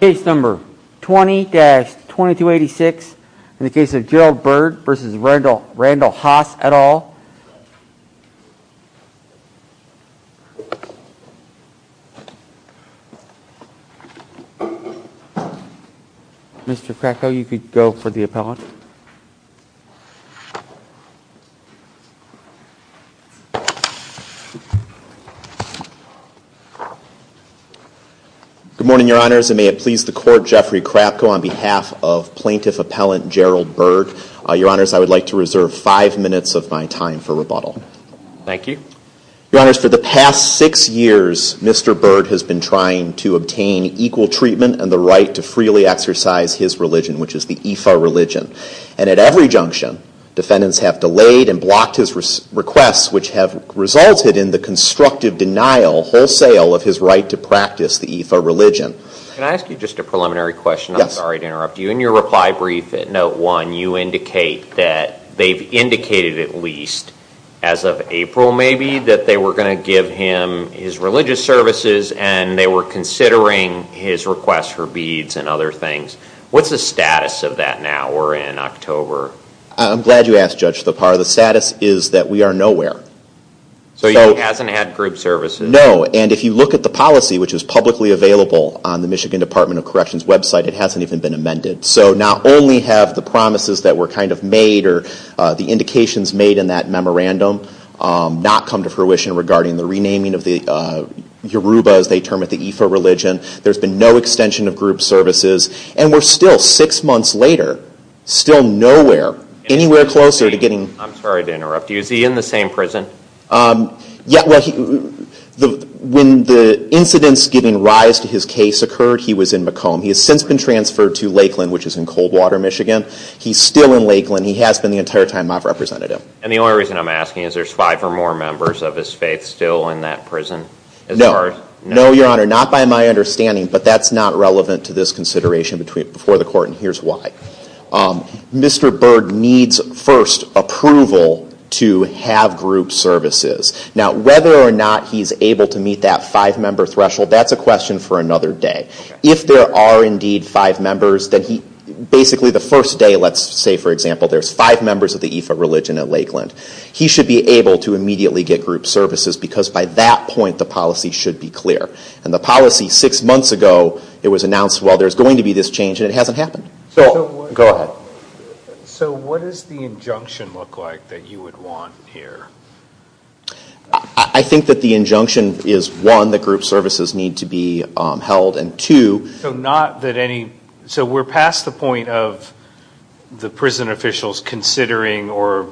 Case number 20-2286 in the case of Gerald Byrd v. Randall Haas et al. Mr. Krakow, you could go for the appellant. Good morning, Your Honors, and may it please the Court, Jeffrey Krakow on behalf of Plaintiff Appellant Gerald Byrd. Your Honors, I would like to reserve five minutes of my time for rebuttal. Thank you. Your Honors, for the past six years, Mr. Byrd has been trying to obtain equal treatment and the right to freely exercise his religion, which is the Ifa religion. And at every junction, defendants have delayed and blocked his requests, which have resulted in the constructive denial wholesale of his right to practice the Ifa religion. Can I ask you just a preliminary question? Yes. I'm sorry to interrupt you. In your reply brief at note one, you indicate that they've indicated at least as of April maybe that they were going to give him his religious services and they were considering his request for beads and other things. What's the status of that now? We're in October. I'm glad you asked, Judge Lepar. The status is that we are nowhere. So he hasn't had group services? No. And if you look at the policy, which is publicly available on the Michigan Department of Corrections website, it hasn't even been amended. So not only have the promises that were kind of made or the indications made in that memorandum not come to fruition regarding the renaming of the Yoruba, as they term it, the Ifa religion. There's been no extension of group services. And we're still six months later, still nowhere, anywhere closer to getting... I'm sorry to interrupt you. Is he in the same prison? Yeah, well, when the incidents giving rise to his case occurred, he was in Macomb. He has since been transferred to Lakeland, which is in Coldwater, Michigan. He's still in Lakeland. He has been the entire time I've represented him. And the only reason I'm asking is there's five or more members of his faith still in that prison? No. No, Your Honor. Not by my understanding, but that's not relevant to this consideration before the court and here's why. Mr. Berg needs first approval to have group services. Now whether or not he's able to meet that five-member threshold, that's a question for another day. If there are indeed five members, then basically the first day, let's say, for example, there's five members of the Ifa religion at Lakeland. He should be able to immediately get group services because by that point, the policy should be clear. And the policy six months ago, it was announced, well, there's going to be this change, and it hasn't happened. So... Go ahead. So what does the injunction look like that you would want here? I think that the injunction is, one, that group services need to be held, and two... So not that any... So we're past the point of the prison officials considering or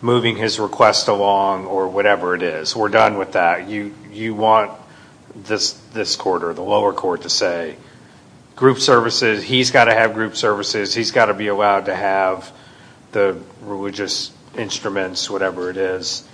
moving his request along or whatever it is. We're done with that. You want this court or the lower court to say, group services, he's got to have group services, he's got to be allowed to have the religious instruments, whatever it is.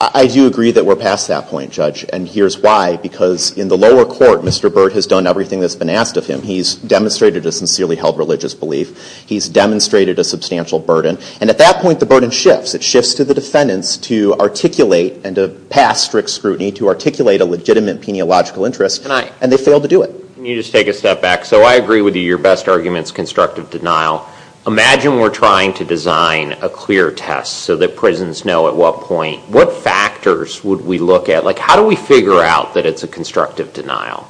I do agree that we're past that point, Judge, and here's why. Because in the lower court, Mr. Burt has done everything that's been asked of him. He's demonstrated a sincerely held religious belief. He's demonstrated a substantial burden. And at that point, the burden shifts. It shifts to the defendants to articulate and to pass strict scrutiny to articulate a legitimate peniological interest, and they failed to do it. Can you just take a step back? So I agree with you. Your best argument is constructive denial. Imagine we're trying to design a clear test so that prisons know at what point... What factors would we look at? How do we figure out that it's a constructive denial?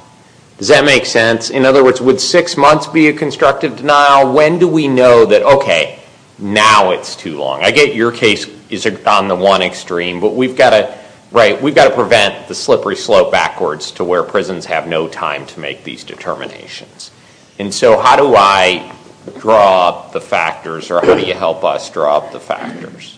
Does that make sense? In other words, would six months be a constructive denial? When do we know that, okay, now it's too long? I get your case is on the one extreme, but we've got to prevent the slippery slope backwards to where prisons have no time to make these determinations. And so how do I draw up the factors, or how do you help us draw up the factors?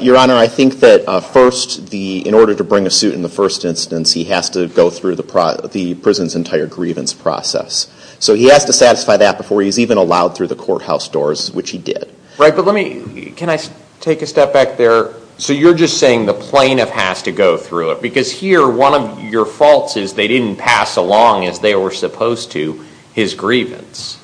Your Honor, I think that first, in order to bring a suit in the first instance, he has to go through the prison's entire grievance process. So he has to satisfy that before he's even allowed through the courthouse doors, which he did. Right, but let me... Can I take a step back there? So you're just saying the plaintiff has to go through it, because here, one of your faults is they didn't pass along as they were supposed to his grievance.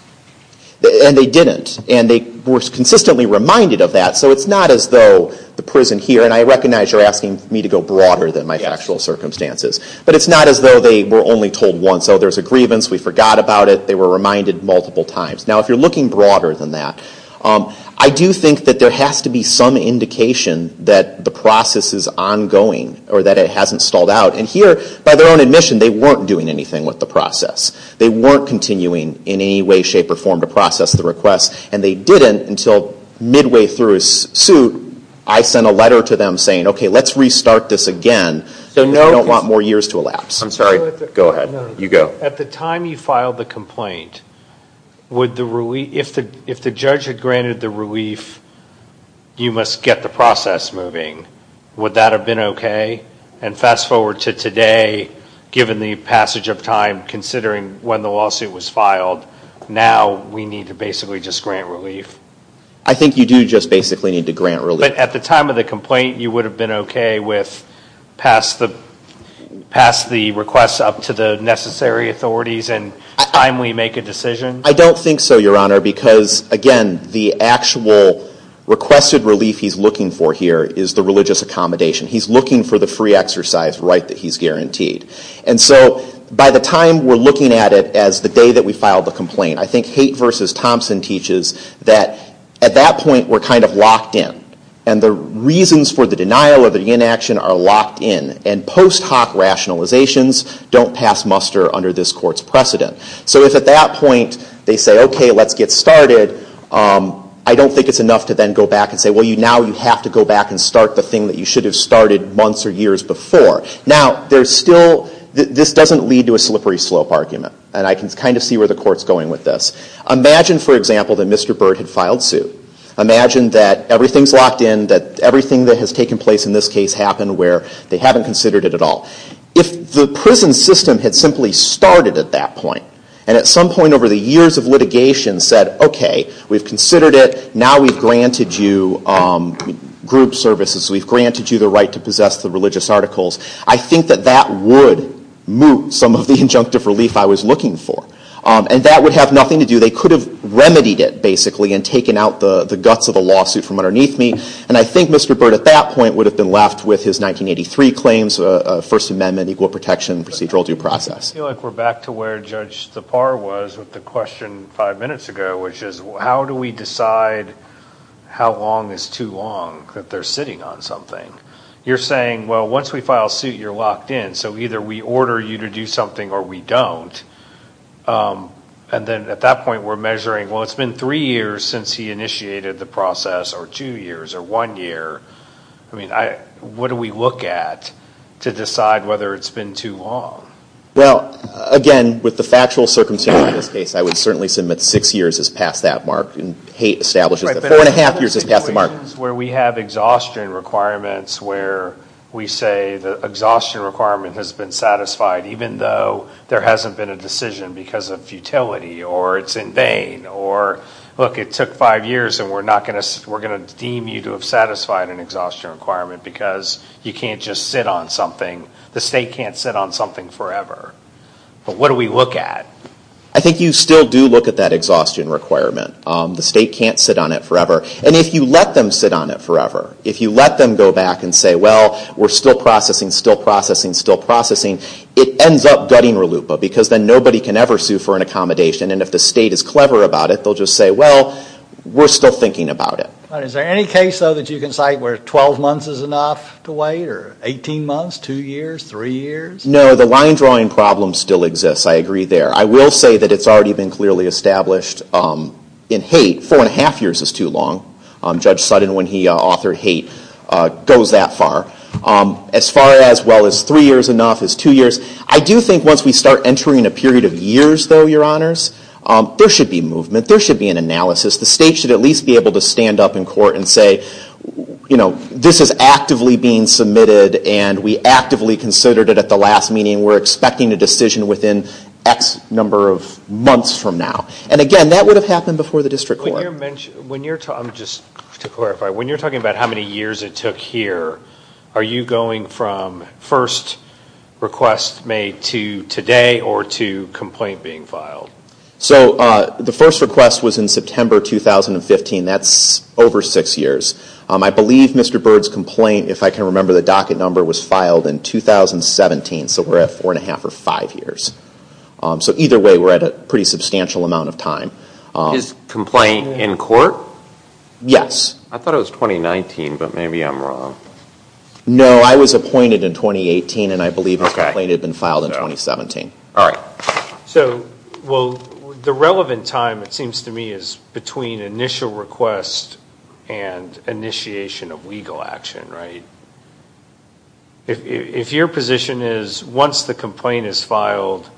And they didn't. And they were consistently reminded of that. So it's not as though the prison here, and I recognize you're asking me to go broader than my factual circumstances, but it's not as though they were only told once, oh, there's a grievance, we forgot about it, they were reminded multiple times. Now if you're looking broader than that, I do think that there has to be some indication that the process is ongoing, or that it hasn't stalled out. And here, by their own admission, they weren't doing anything with the process. They weren't continuing in any way, shape, or form to process the request, and they didn't until midway through his suit, I sent a letter to them saying, okay, let's restart this again. They don't want more years to elapse. I'm sorry. Go ahead. You go. At the time you filed the complaint, if the judge had granted the relief, you must get the process moving. Would that have been okay? And fast forward to today, given the passage of time, considering when the lawsuit was I think you do just basically need to grant relief. At the time of the complaint, you would have been okay with pass the request up to the necessary authorities and timely make a decision? I don't think so, Your Honor, because again, the actual requested relief he's looking for here is the religious accommodation. He's looking for the free exercise right that he's guaranteed. And so by the time we're looking at it as the day that we filed the complaint, I think at that point we're kind of locked in. And the reasons for the denial or the inaction are locked in. And post hoc rationalizations don't pass muster under this court's precedent. So if at that point they say, okay, let's get started, I don't think it's enough to then go back and say, well, now you have to go back and start the thing that you should have started months or years before. Now there's still this doesn't lead to a slippery slope argument. And I can kind of see where the court's going with this. Imagine, for example, that Mr. Byrd had filed suit. Imagine that everything's locked in, that everything that has taken place in this case happened where they haven't considered it at all. If the prison system had simply started at that point, and at some point over the years of litigation said, okay, we've considered it, now we've granted you group services. We've granted you the right to possess the religious articles. I think that that would move some of the injunctive relief I was looking for. And that would have nothing to do, they could have remedied it, basically, and taken out the guts of the lawsuit from underneath me. And I think Mr. Byrd at that point would have been left with his 1983 claims, First Amendment, equal protection, procedural due process. I feel like we're back to where Judge Tappar was with the question five minutes ago, which is, how do we decide how long is too long that they're sitting on something? You're saying, well, once we file suit, you're locked in. So either we order you to do something, or we don't. And then at that point, we're measuring, well, it's been three years since he initiated the process, or two years, or one year. I mean, what do we look at to decide whether it's been too long? Well, again, with the factual circumstances in this case, I would certainly submit six years is past that mark. And Haight establishes that four and a half years is past the mark. Questions where we have exhaustion requirements, where we say the exhaustion requirement has been satisfied, even though there hasn't been a decision because of futility, or it's in vain. Or, look, it took five years, and we're going to deem you to have satisfied an exhaustion requirement, because you can't just sit on something. The state can't sit on something forever. But what do we look at? I think you still do look at that exhaustion requirement. The state can't sit on it forever. And if you let them sit on it forever, if you let them go back and say, well, we're still processing, still processing, still processing, it ends up gutting RLUIPA, because then nobody can ever sue for an accommodation. And if the state is clever about it, they'll just say, well, we're still thinking about it. But is there any case, though, that you can cite where 12 months is enough to wait, or 18 months, two years, three years? No, the line drawing problem still exists. I agree there. I will say that it's already been clearly established in Haight, four and a half years is too long. Judge Sutton, when he authored Haight, goes that far. As far as, well, is three years enough? Is two years? I do think once we start entering a period of years, though, your honors, there should be movement. There should be an analysis. The state should at least be able to stand up in court and say, this is actively being submitted, and we actively considered it at the last meeting. We're expecting a decision within X number of months from now. And again, that would have happened before the district court. When you're, just to clarify, when you're talking about how many years it took here, are you going from first request made to today, or to complaint being filed? So the first request was in September 2015. That's over six years. I believe Mr. Bird's complaint, if I can remember the docket number, was filed in 2017. So we're at four and a half or five years. So either way, we're at a pretty substantial amount of time. His complaint in court? Yes. I thought it was 2019, but maybe I'm wrong. No, I was appointed in 2018, and I believe his complaint had been filed in 2017. All right. So, well, the relevant time, it seems to me, is between initial request and initiation of legal action, right? If your position is, once the complaint is filed,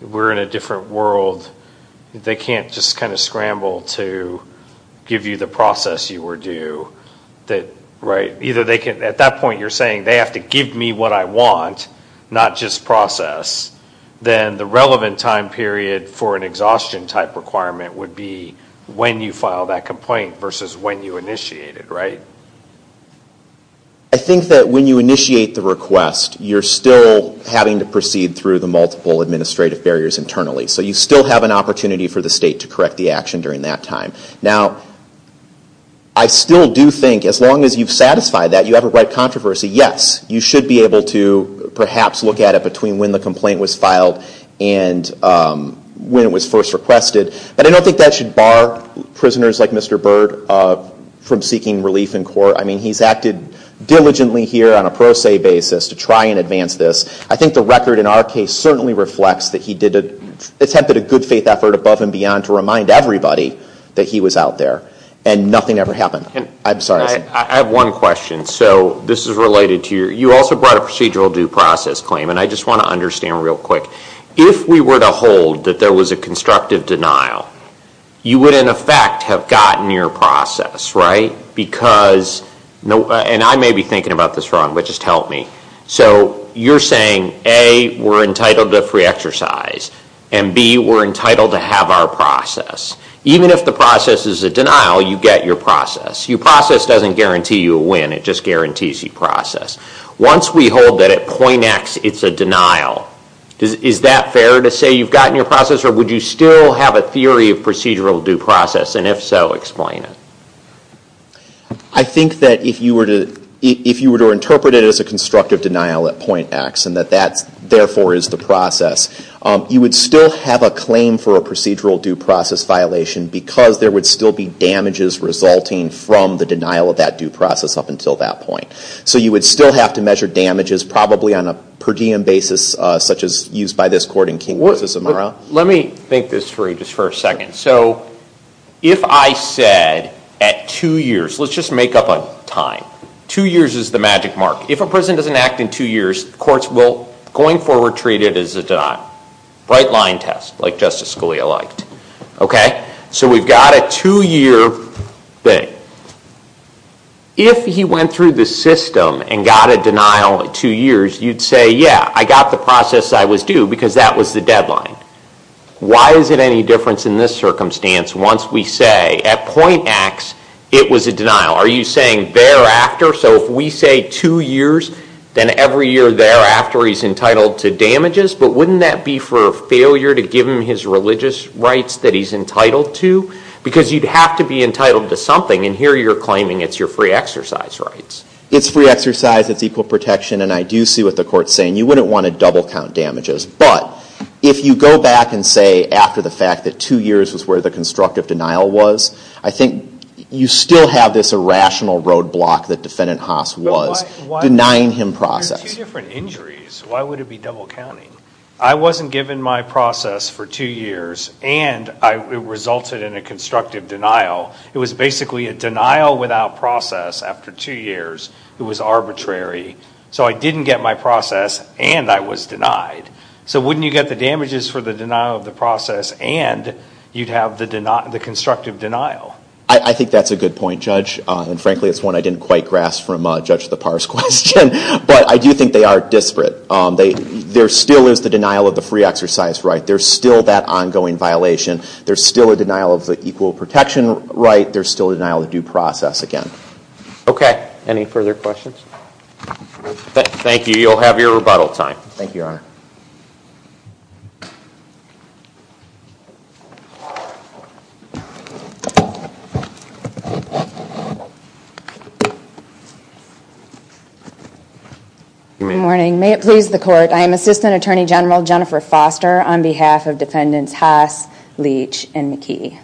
we're in a different world, they can't just kind of scramble to give you the process you were due, right? Either they can, at that point, you're saying they have to give me what I want, not just process. Then the relevant time period for an exhaustion type requirement would be when you file that complaint versus when you initiate it, right? I think that when you initiate the request, you're still having to proceed through the multiple administrative barriers internally. So you still have an opportunity for the state to correct the action during that time. Now, I still do think, as long as you've satisfied that, you have a right controversy, yes, you should be able to perhaps look at it between when the complaint was filed and when it was first requested. But I don't think that should bar prisoners like Mr. Byrd from seeking relief in court. I mean, he's acted diligently here on a pro se basis to try and advance this. I think the record in our case certainly reflects that he attempted a good faith effort above and beyond to remind everybody that he was out there. And nothing ever happened. I'm sorry. I have one question. So this is related to your, you also brought a procedural due process claim. And I just want to understand real quick. If we were to hold that there was a constructive denial, you would in effect have gotten your process, right? Because, and I may be thinking about this wrong, but just help me. So you're saying, A, we're entitled to free exercise. And B, we're entitled to have our process. Even if the process is a denial, you get your process. Your process doesn't guarantee you a win. It just guarantees you process. Once we hold that at point X it's a denial, is that fair to say you've gotten your process or would you still have a theory of procedural due process? And if so, explain it. I think that if you were to interpret it as a constructive denial at point X and that that therefore is the process, you would still have a claim for a procedural due process violation because there would still be damages resulting from the denial of that due process up until that point. So you would still have to measure damages probably on a per diem basis such as used by this court in King v. Amaro. Let me think this through just for a second. So if I said at two years, let's just make up a time. Two years is the magic mark. If a person doesn't act in two years, courts will going forward treat it as a denial. Bright line test, like Justice Scalia liked. Okay? So we've got a two year thing. If he went through the system and got a denial at two years, you'd say, yeah, I got the process I was due because that was the deadline. Why is it any difference in this circumstance once we say at point X it was a denial? Are you saying thereafter? So if we say two years, then every year thereafter he's entitled to damages, but wouldn't that be for a failure to give him his religious rights that he's entitled to? Because you'd have to be entitled to something, and here you're claiming it's your free exercise rights. It's free exercise. It's equal protection. And I do see what the court's saying. You wouldn't want to double count damages. But if you go back and say after the fact that two years was where the constructive denial was, I think you still have this irrational roadblock that Defendant Haas was denying him process. There are two different injuries. Why would it be double counting? I wasn't given my process for two years, and it resulted in a constructive denial. It was basically a denial without process after two years. It was arbitrary. So I didn't get my process, and I was denied. So wouldn't you get the damages for the denial of the process, and you'd have the constructive denial? I think that's a good point, Judge. And frankly, it's one I didn't quite grasp from Judge Lepar's question. But I do think they are disparate. There still is the denial of the free exercise right. There's still that ongoing violation. There's still a denial of the equal protection right. There's still a denial of due process again. OK. Any further questions? Thank you. You'll have your rebuttal time. Thank you, Your Honor. Good morning. May it please the Court. I am Assistant Attorney General Jennifer Foster on behalf of defendants Haas, Leach, and McKee.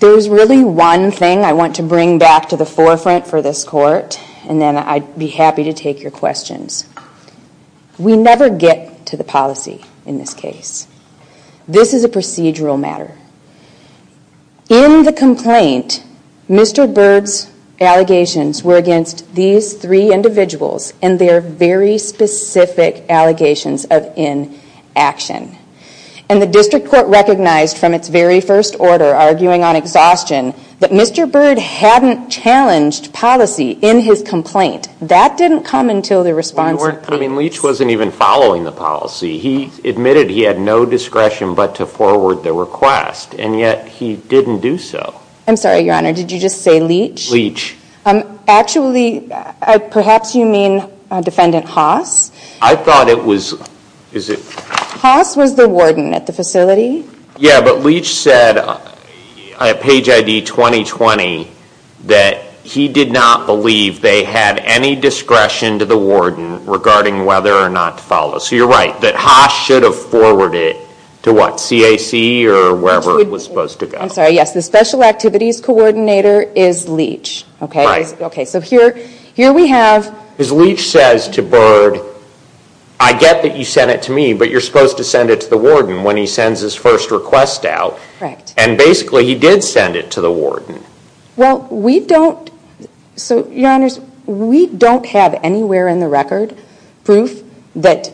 There's really one thing I want to bring back to the forefront for this Court, and then I'd be happy to take your questions. We never get to the policy in this case. This is a procedural matter. In the complaint, Mr. Byrd's allegations were against these three individuals and their very specific allegations of inaction. And the District Court recognized from its very first order, arguing on exhaustion, that Mr. Byrd hadn't challenged policy in his complaint. That didn't come until the response of Leach. I mean, Leach wasn't even following the policy. He admitted he had no discretion but to forward the request, and yet he didn't do so. I'm sorry, Your Honor. Did you just say Leach? Leach. Actually, perhaps you mean Defendant Haas. I thought it was... Is it... Haas was the warden at the facility. Yeah, but Leach said at page ID 2020 that he did not believe they had any discretion to the warden regarding whether or not to follow. So you're right. That Haas should have forwarded it to what, CAC or wherever it was supposed to go. I'm sorry. Yes, the Special Activities Coordinator is Leach. Okay, so here we have... Because Leach says to Byrd, I get that you sent it to me, but you're supposed to send it to the warden when he sends his first request out. Correct. And basically, he did send it to the warden. Well, we don't... So, Your Honors, we don't have anywhere in the record proof that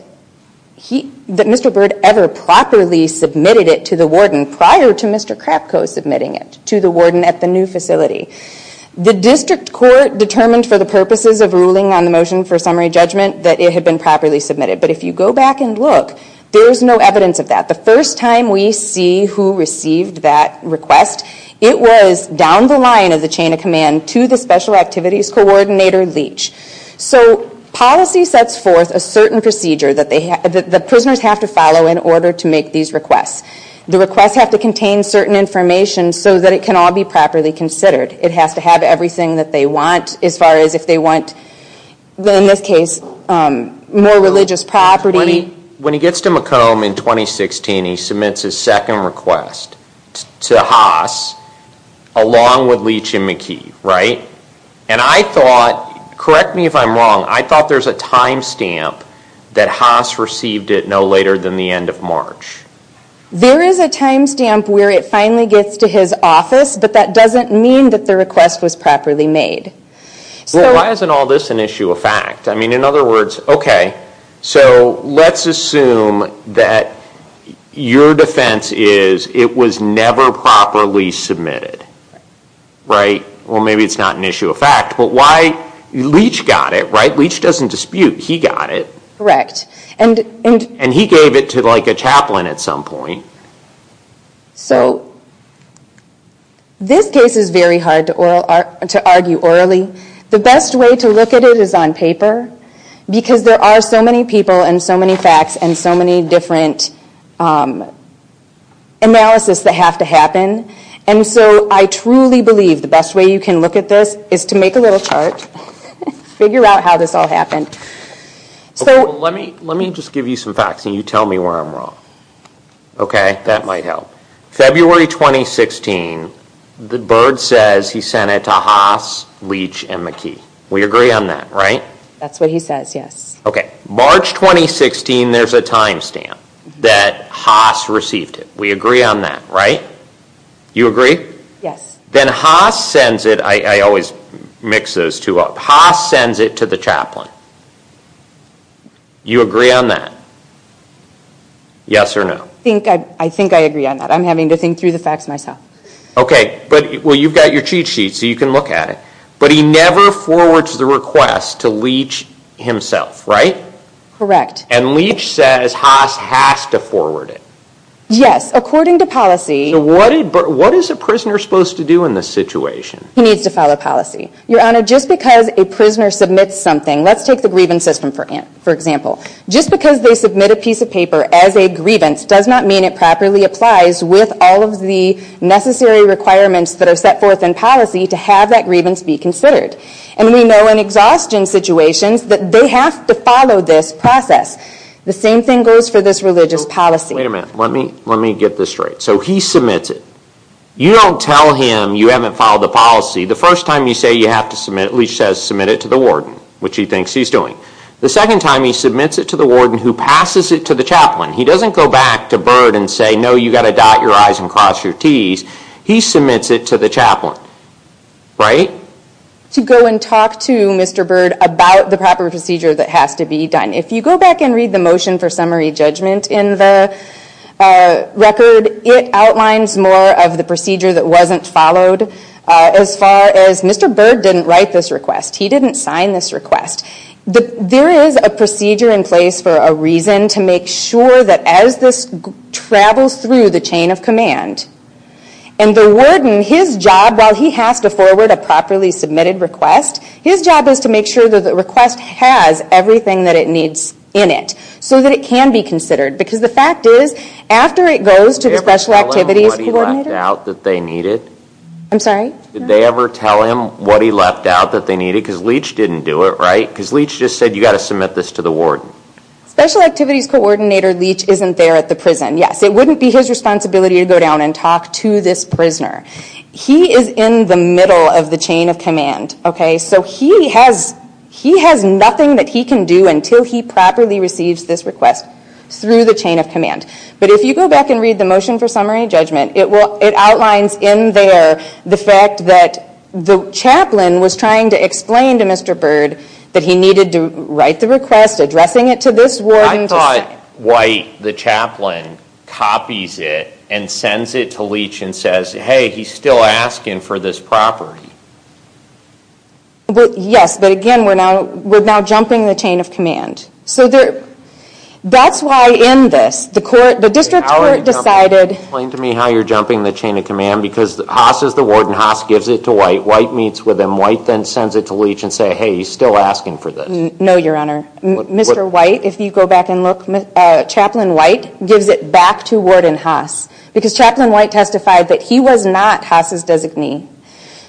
Mr. Byrd ever properly submitted it to the warden prior to Mr. Krapko submitting it to the warden at the new facility. The district court determined for the purposes of ruling on the motion for summary judgment that it had been properly submitted. But if you go back and look, there's no evidence of that. The first time we see who received that request, it was down the line of the chain of command to the Special Activities Coordinator, Leach. So policy sets forth a certain procedure that the prisoners have to follow in order to make these requests. The requests have to contain certain information so that it can all be properly considered. It has to have everything that they want as far as if they want, in this case, more religious property. When he gets to Macomb in 2016, he submits his second request to Haas along with Leach and McKee, right? And I thought, correct me if I'm wrong, I thought there's a time stamp that Haas received it no later than the end of March. There is a time stamp where it finally gets to his office, but that doesn't mean that the request was properly made. Why isn't all this an issue of fact? I mean, in other words, okay, so let's assume that your defense is it was never properly submitted, right? Well, maybe it's not an issue of fact, but why? Leach got it, right? Leach doesn't dispute. He got it. Correct. And he gave it to like a chaplain at some point. So this case is very hard to argue orally. The best way to look at it is on paper because there are so many people and so many facts and so many different analysis that have to happen. And so I truly believe the best way you can look at this is to make a little chart, figure out how this all happened. So let me just give you some facts and you tell me where I'm wrong. Okay, that might help. February 2016, Bird says he sent it to Haas, Leach, and McKee. We agree on that, right? That's what he says, yes. Okay. March 2016, there's a time stamp that Haas received it. We agree on that, right? You agree? Yes. Then Haas sends it, I always mix those two up. Haas sends it to the chaplain. You agree on that? Yes or no? I think I agree on that. I'm having to think through the facts myself. Okay, but well, you've got your cheat sheet so you can look at it. But he never forwards the request to Leach himself, right? Correct. And Leach says Haas has to forward it. Yes, according to policy. But what is a prisoner supposed to do in this situation? He needs to follow policy. Your Honor, just because a prisoner submits something, let's take the briefcase for example, just because they submit a piece of paper as a grievance does not mean it properly applies with all of the necessary requirements that are set forth in policy to have that grievance be considered. And we know in exhaustion situations that they have to follow this process. The same thing goes for this religious policy. Wait a minute. Let me get this straight. So he submits it. You don't tell him you haven't followed the policy. The first time you say you have to submit, Leach says submit it to the warden, which he thinks he's doing. The second time he submits it to the warden who passes it to the chaplain. He doesn't go back to Byrd and say no, you've got to dot your i's and cross your t's. He submits it to the chaplain, right? To go and talk to Mr. Byrd about the proper procedure that has to be done. If you go back and read the motion for summary judgment in the record, it outlines more of the procedure that wasn't followed. As far as Mr. Byrd didn't write this request. He didn't sign this request. There is a procedure in place for a reason to make sure that as this travels through the chain of command, and the warden, his job, while he has to forward a properly submitted request, his job is to make sure that the request has everything that it needs in it so that it can be considered. Because the fact is, after it goes to the special activities coordinator. I'm sorry? Leach didn't do it, right? Because Leach just said you've got to submit this to the warden. Special activities coordinator Leach isn't there at the prison. Yes, it wouldn't be his responsibility to go down and talk to this prisoner. He is in the middle of the chain of command. He has nothing that he can do until he properly receives this request through the chain of command. But if you go back and read the motion for summary judgment, it outlines in there the that the chaplain was trying to explain to Mr. Bird that he needed to write the request, addressing it to this warden. I thought White, the chaplain, copies it and sends it to Leach and says, hey, he's still asking for this property. Yes, but again, we're now jumping the chain of command. That's why in this, the district court decided. Haas is the warden. Haas gives it to White. White meets with him. White then sends it to Leach and says, hey, he's still asking for this. No, Your Honor. Mr. White, if you go back and look, Chaplain White gives it back to Warden Haas because Chaplain White testified that he was not Haas's designee.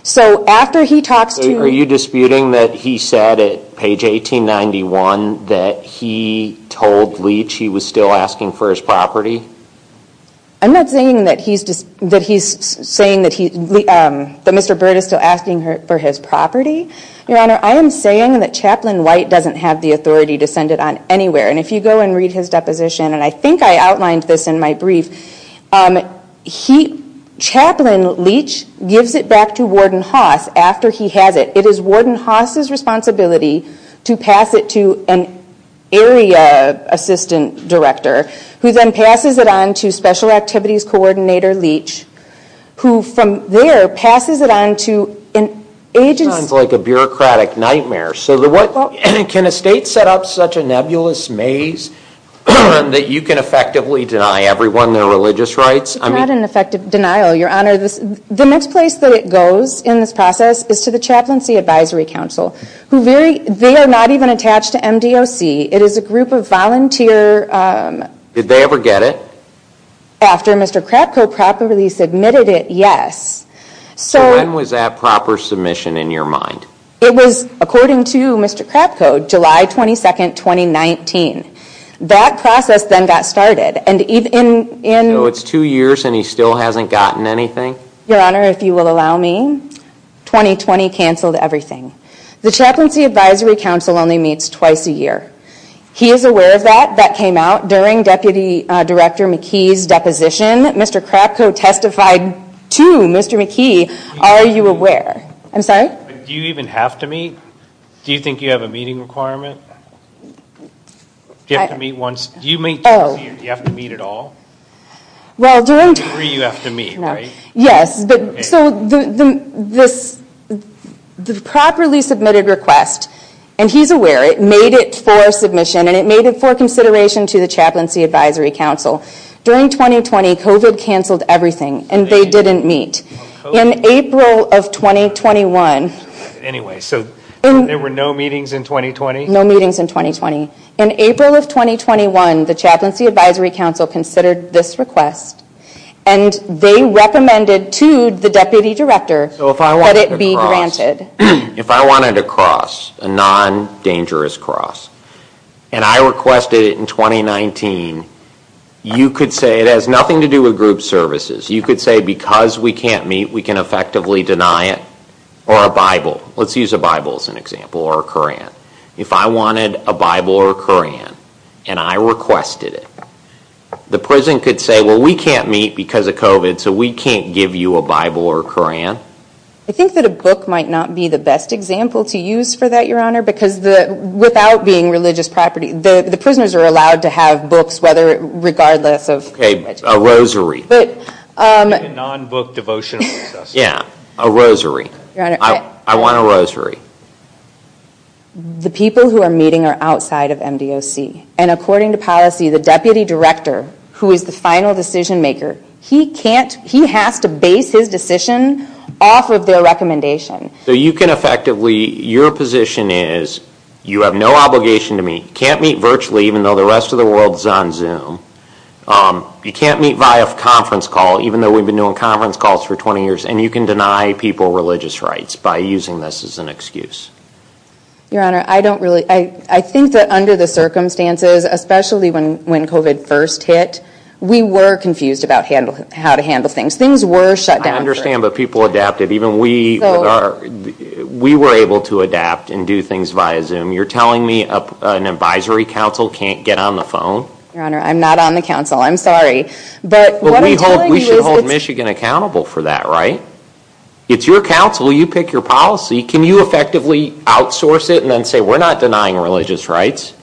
So after he talks to... Are you disputing that he said at page 1891 that he told Leach he was still asking for his property? I'm not saying that he's saying that Mr. Bird is still asking for his property. Your Honor, I am saying that Chaplain White doesn't have the authority to send it on anywhere. And if you go and read his deposition, and I think I outlined this in my brief, Chaplain Leach gives it back to Warden Haas after he has it. It is Warden Haas's responsibility to pass it to an area assistant director, who then passes it on to Special Activities Coordinator Leach, who from there passes it on to an agency... Sounds like a bureaucratic nightmare. Can a state set up such a nebulous maze that you can effectively deny everyone their religious rights? Not an effective denial, Your Honor. The next place that it goes in this process is to the Chaplaincy Advisory Council. They are not even attached to MDOC. It is a group of volunteer... Did they ever get it? After Mr. Krapko properly submitted it, yes. So when was that proper submission in your mind? It was, according to Mr. Krapko, July 22, 2019. That process then got started. And even in... So it's two years and he still hasn't gotten anything? Your Honor, if you will allow me, 2020 canceled everything. The Chaplaincy Advisory Council only meets twice a year. He is aware of that. That came out during Deputy Director McKee's deposition. Mr. Krapko testified to Mr. McKee. Are you aware? I'm sorry? Do you even have to meet? Do you think you have a meeting requirement? Do you have to meet once? Do you meet twice a year? Do you have to meet at all? Well, during time... Every three, you have to meet, right? Yes, but... So the properly submitted request, and he's aware. It made it for submission and it made it for consideration to the Chaplaincy Advisory Council. During 2020, COVID canceled everything and they didn't meet. In April of 2021... Anyway, so there were no meetings in 2020? No meetings in 2020. In April of 2021, the Chaplaincy Advisory Council considered this request and they recommended to the Deputy Director that it be granted. If I wanted a cross, a non-dangerous cross, and I requested it in 2019, you could say it has nothing to do with group services. You could say, because we can't meet, we can effectively deny it, or a Bible. Let's use a Bible as an example, or a Koran. If I wanted a Bible or a Koran, and I requested it, the prison could say, well, we can't meet because of COVID, so we can't give you a Bible or a Koran. I think that a book might not be the best example to use for that, Your Honor, because without being religious property, the prisoners are allowed to have books, regardless of... Okay, a rosary. A non-book devotional process. Yeah, a rosary. I want a rosary. The people who are meeting are outside of MDOC, and according to policy, the Deputy Director, who is the final decision maker, he can't... He has to base his decision off of their recommendation. So you can effectively... Your position is, you have no obligation to meet, can't meet virtually, even though the rest of the world is on Zoom. You can't meet via conference call, even though we've been doing conference calls for 20 years, and you can deny people religious rights by using this as an excuse. Your Honor, I don't really... I think that under the circumstances, especially when COVID first hit, we were confused about how to handle things. Things were shut down. I understand, but people adapted. Even we were able to adapt and do things via Zoom. You're telling me an advisory council can't get on the phone? Your Honor, I'm not on the council. I'm sorry, but what I'm telling you is... But we should hold Michigan accountable for that, right? It's your council. You pick your policy. Can you effectively outsource it and then say, we're not denying religious rights?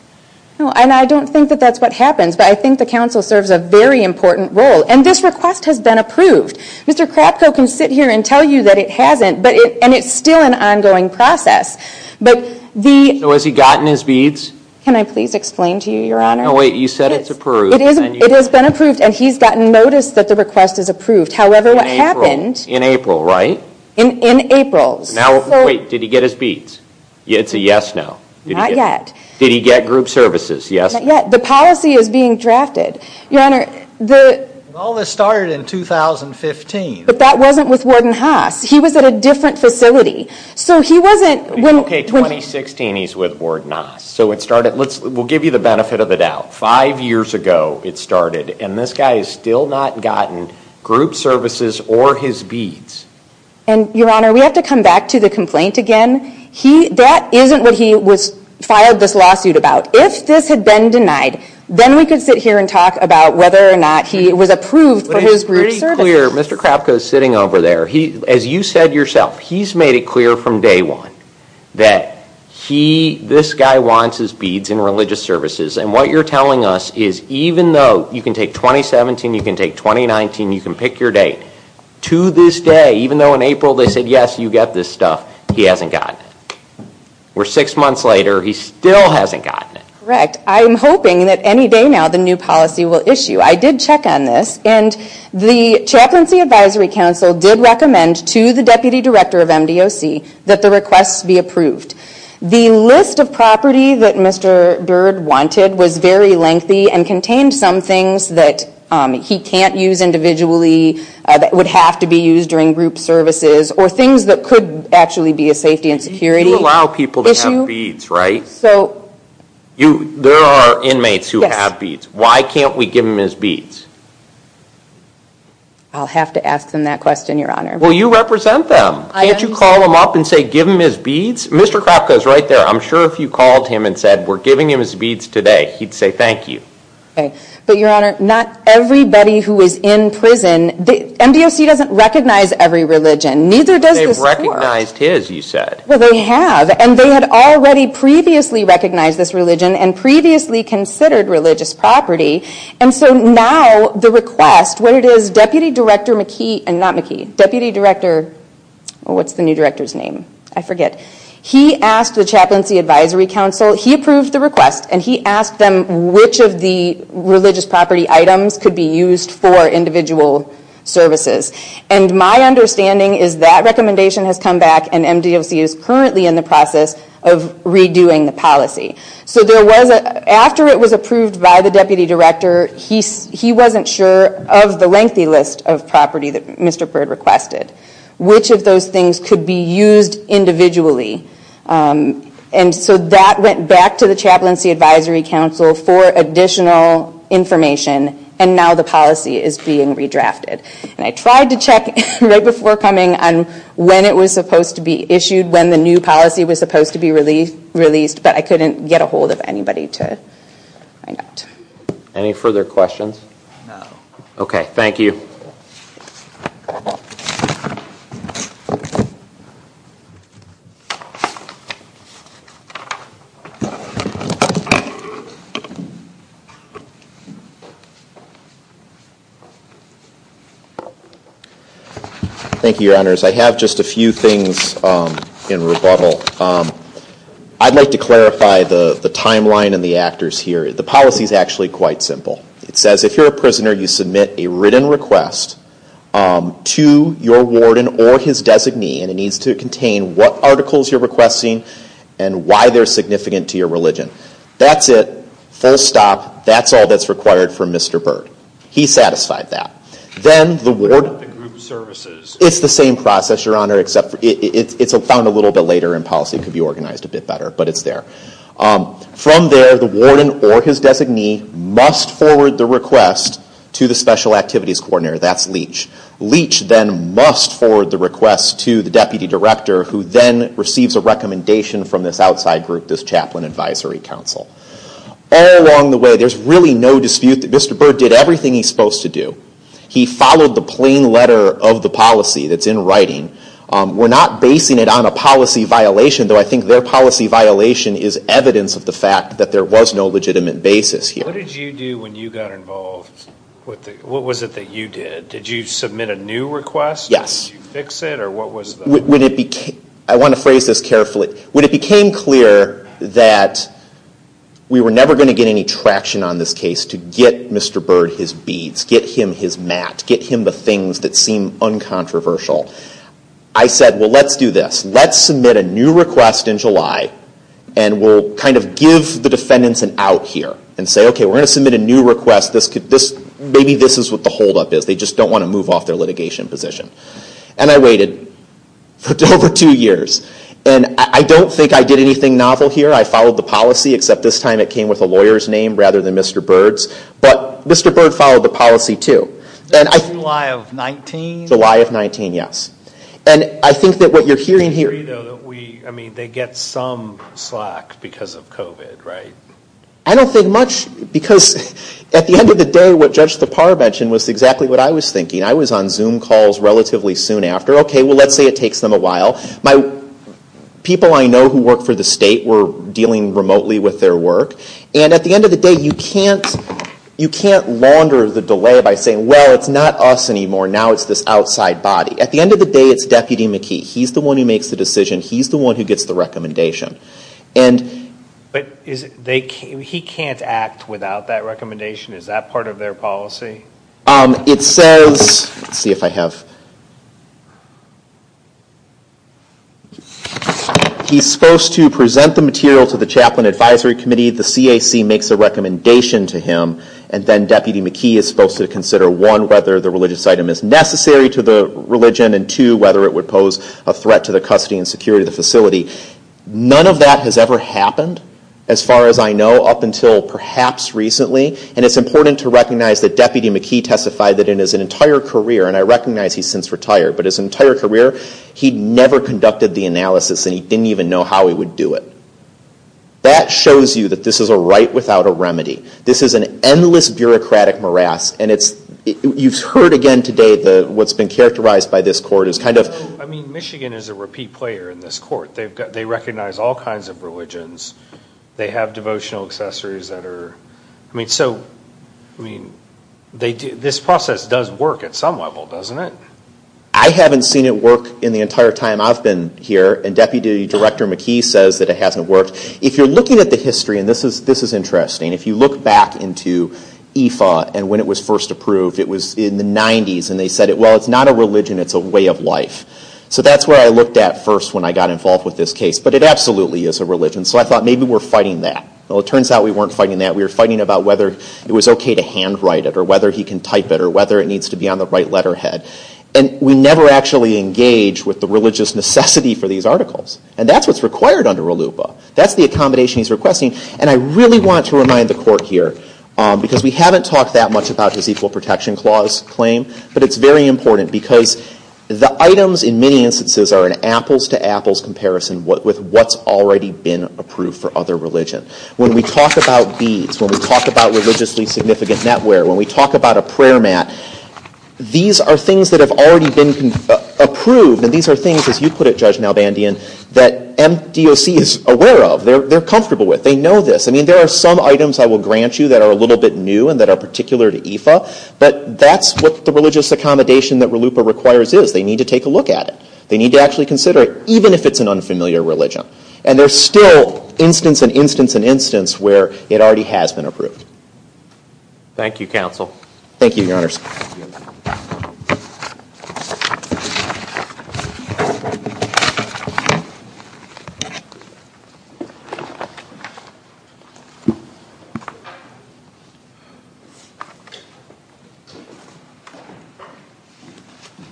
No, and I don't think that that's what happens, but I think the council serves a very important role, and this request has been approved. Mr. Krapko can sit here and tell you that it hasn't, and it's still an ongoing process, but the... So has he gotten his beads? Can I please explain to you, Your Honor? No, wait, you said it's approved. It is. It has been approved, and he's gotten notice that the request is approved. However, what happened... In April, right? In April. Wait, did he get his beads? It's a yes, no. Not yet. Did he get group services? Yes, not yet. The policy is being drafted. Your Honor, the... All this started in 2015. But that wasn't with Warden Haas. He was at a different facility. So he wasn't... Okay, 2016, he's with Warden Haas. So it started... Let's... We'll give you the benefit of the doubt. Five years ago, it started, and this guy has still not gotten group services or his beads. And, Your Honor, we have to come back to the complaint again. That isn't what he was... Fired this lawsuit about. If this had been denied, then we could sit here and talk about whether or not he was approved for his group services. Mr. Krapko is sitting over there. As you said yourself, he's made it clear from day one that he... This guy wants his beads and religious services. And what you're telling us is even though you can take 2017, you can take 2019, you can pick your date. To this day, even though in April they said, yes, you get this stuff, he hasn't gotten it. Where six months later, he still hasn't gotten it. Correct. I'm hoping that any day now the new policy will issue. I did check on this, and the Chaplaincy Advisory Council did recommend to the Deputy Director of MDOC that the requests be approved. The list of property that Mr. Byrd wanted was very lengthy and contained some things that he can't use individually, that would have to be used during group services, or things that could actually be a safety and security issue. You allow people to have beads, right? There are inmates who have beads. Why can't we give him his beads? I'll have to ask them that question, Your Honor. Well, you represent them. Can't you call them up and say, give him his beads? Mr. Krapko is right there. I'm sure if you called him and said, we're giving him his beads today, he'd say, thank you. But Your Honor, not everybody who is in prison... MDOC doesn't recognize every religion. They've recognized his, you said. Well, they have. And they had already previously recognized this religion and previously considered religious property. And so now the request, what it is, Deputy Director McKee, and not McKee, Deputy Director... What's the new director's name? I forget. He asked the Chaplaincy Advisory Council, he approved the request, and he asked them which of the religious property items could be used for individual services. And my understanding is that recommendation has come back and MDOC is currently in the process of redoing the policy. So after it was approved by the Deputy Director, he wasn't sure of the lengthy list of property that Mr. Byrd requested, which of those things could be used individually. And so that went back to the Chaplaincy Advisory Council for additional information. And now the policy is being redrafted. And I tried to check right before coming on when it was supposed to be issued, when the new policy was supposed to be released, but I couldn't get ahold of anybody to find out. Any further questions? No. Okay, thank you. Thank you, Your Honors. I have just a few things in rebuttal. I'd like to clarify the timeline and the actors here. The policy is actually quite simple. It says if you're a prisoner, you submit a written request to your warden or his designee, and it needs to contain what articles you're requesting and why they're significant to your religion. That's it, full stop. That's all that's required from Mr. Byrd. He satisfied that. Then the warden, it's the same process, Your Honor, except it's found a little bit later and policy could be organized a bit better, but it's there. From there, the warden or his designee must forward the request to the Special Activities Coordinator, that's Leach. Leach then must forward the request to the Deputy Director, who then receives a recommendation from this outside group, this Chaplain Advisory Council. All along the way, there's really no dispute that Mr. Byrd did everything he's supposed to do. He followed the plain letter of the policy that's in writing. We're not basing it on a policy violation, though I think their policy violation is evidence of the fact that there was no legitimate basis here. What did you do when you got involved? What was it that you did? Did you submit a new request? Yes. Did you fix it, or what was the... I want to phrase this carefully. When it became clear that we were never going to get any traction on this case to get Mr. Byrd his beads, get him his mat, get him the things that seem uncontroversial, I said, well, let's do this. Let's submit a new request in July and we'll kind of give the defendants an out here and say, okay, we're going to submit a new request. Maybe this is what the holdup is. They just don't want to move off their litigation position. And I waited for over two years. And I don't think I did anything novel here. I followed the policy, except this time it came with a lawyer's name rather than Mr. Byrd's. But Mr. Byrd followed the policy too. And I... July of 19? July of 19, yes. And I think that what you're hearing here... I mean, they get some slack because of COVID, right? I don't think much because at the end of the day, what Judge Thapar mentioned was exactly what I was thinking. I was on Zoom calls relatively soon after. Okay, well, let's say it takes them a while. My people I know who work for the state were dealing remotely with their work. And at the end of the day, you can't launder the delay by saying, well, it's not us anymore. Now it's this outside body. At the end of the day, it's Deputy McKee. He's the one who makes the decision. He's the one who gets the recommendation. And... But he can't act without that recommendation. Is that part of their policy? It says... Let's see if I have... He's supposed to present the material to the Chaplain Advisory Committee. The CAC makes a recommendation to him. And then Deputy McKee is supposed to consider, one, whether the religious item is necessary to the religion, and two, whether it would pose a threat to the custody and security of the facility. None of that has ever happened, as far as I know, up until perhaps recently. And it's important to recognize that Deputy McKee testified that in his entire career, and I recognize he's since retired, but his entire career, he'd never conducted the analysis and he didn't even know how he would do it. That shows you that this is a right without a remedy. This is an endless bureaucratic morass, and it's... You've heard again today that what's been characterized by this court is kind of... I mean, Michigan is a repeat player in this court. They've got... They recognize all kinds of religions. They have devotional accessories that are... I mean, so... I mean, they do... This process does work at some level, doesn't it? I haven't seen it work in the entire time I've been here, and Deputy Director McKee says that it hasn't worked. If you're looking at the history, and this is interesting, if you look back into IFA, and when it was first approved, it was in the 90s, and they said, well, it's not a religion, it's a way of life. So that's where I looked at first when I got involved with this case, but it absolutely is a religion. So I thought maybe we're fighting that. Well, it turns out we weren't fighting that. We were fighting about whether it was okay to handwrite it, or whether he can type it, or whether it needs to be on the right letterhead. And we never actually engage with the religious necessity for these articles. And that's what's required under ALUPA. That's the accommodation he's requesting. And I really want to remind the Court here, because we haven't talked that much about his Equal Protection Clause claim, but it's very important, because the items in many instances are an apples-to-apples comparison with what's already been approved for other religion. When we talk about beads, when we talk about religiously significant netware, when we talk about a prayer mat, these are things that have already been approved, and these are things, as you put it, Judge Nalbandian, that MDOC is aware of. They're comfortable with. They know this. I mean, there are some items I will grant you that are a little bit new, and that are particular to IFA, but that's what the religious accommodation that RLUIPA requires is. They need to take a look at it. They need to actually consider it, even if it's an unfamiliar religion. And there's still instance and instance and instance where it already has been approved. Thank you, Counsel. Thank you, Your Honors.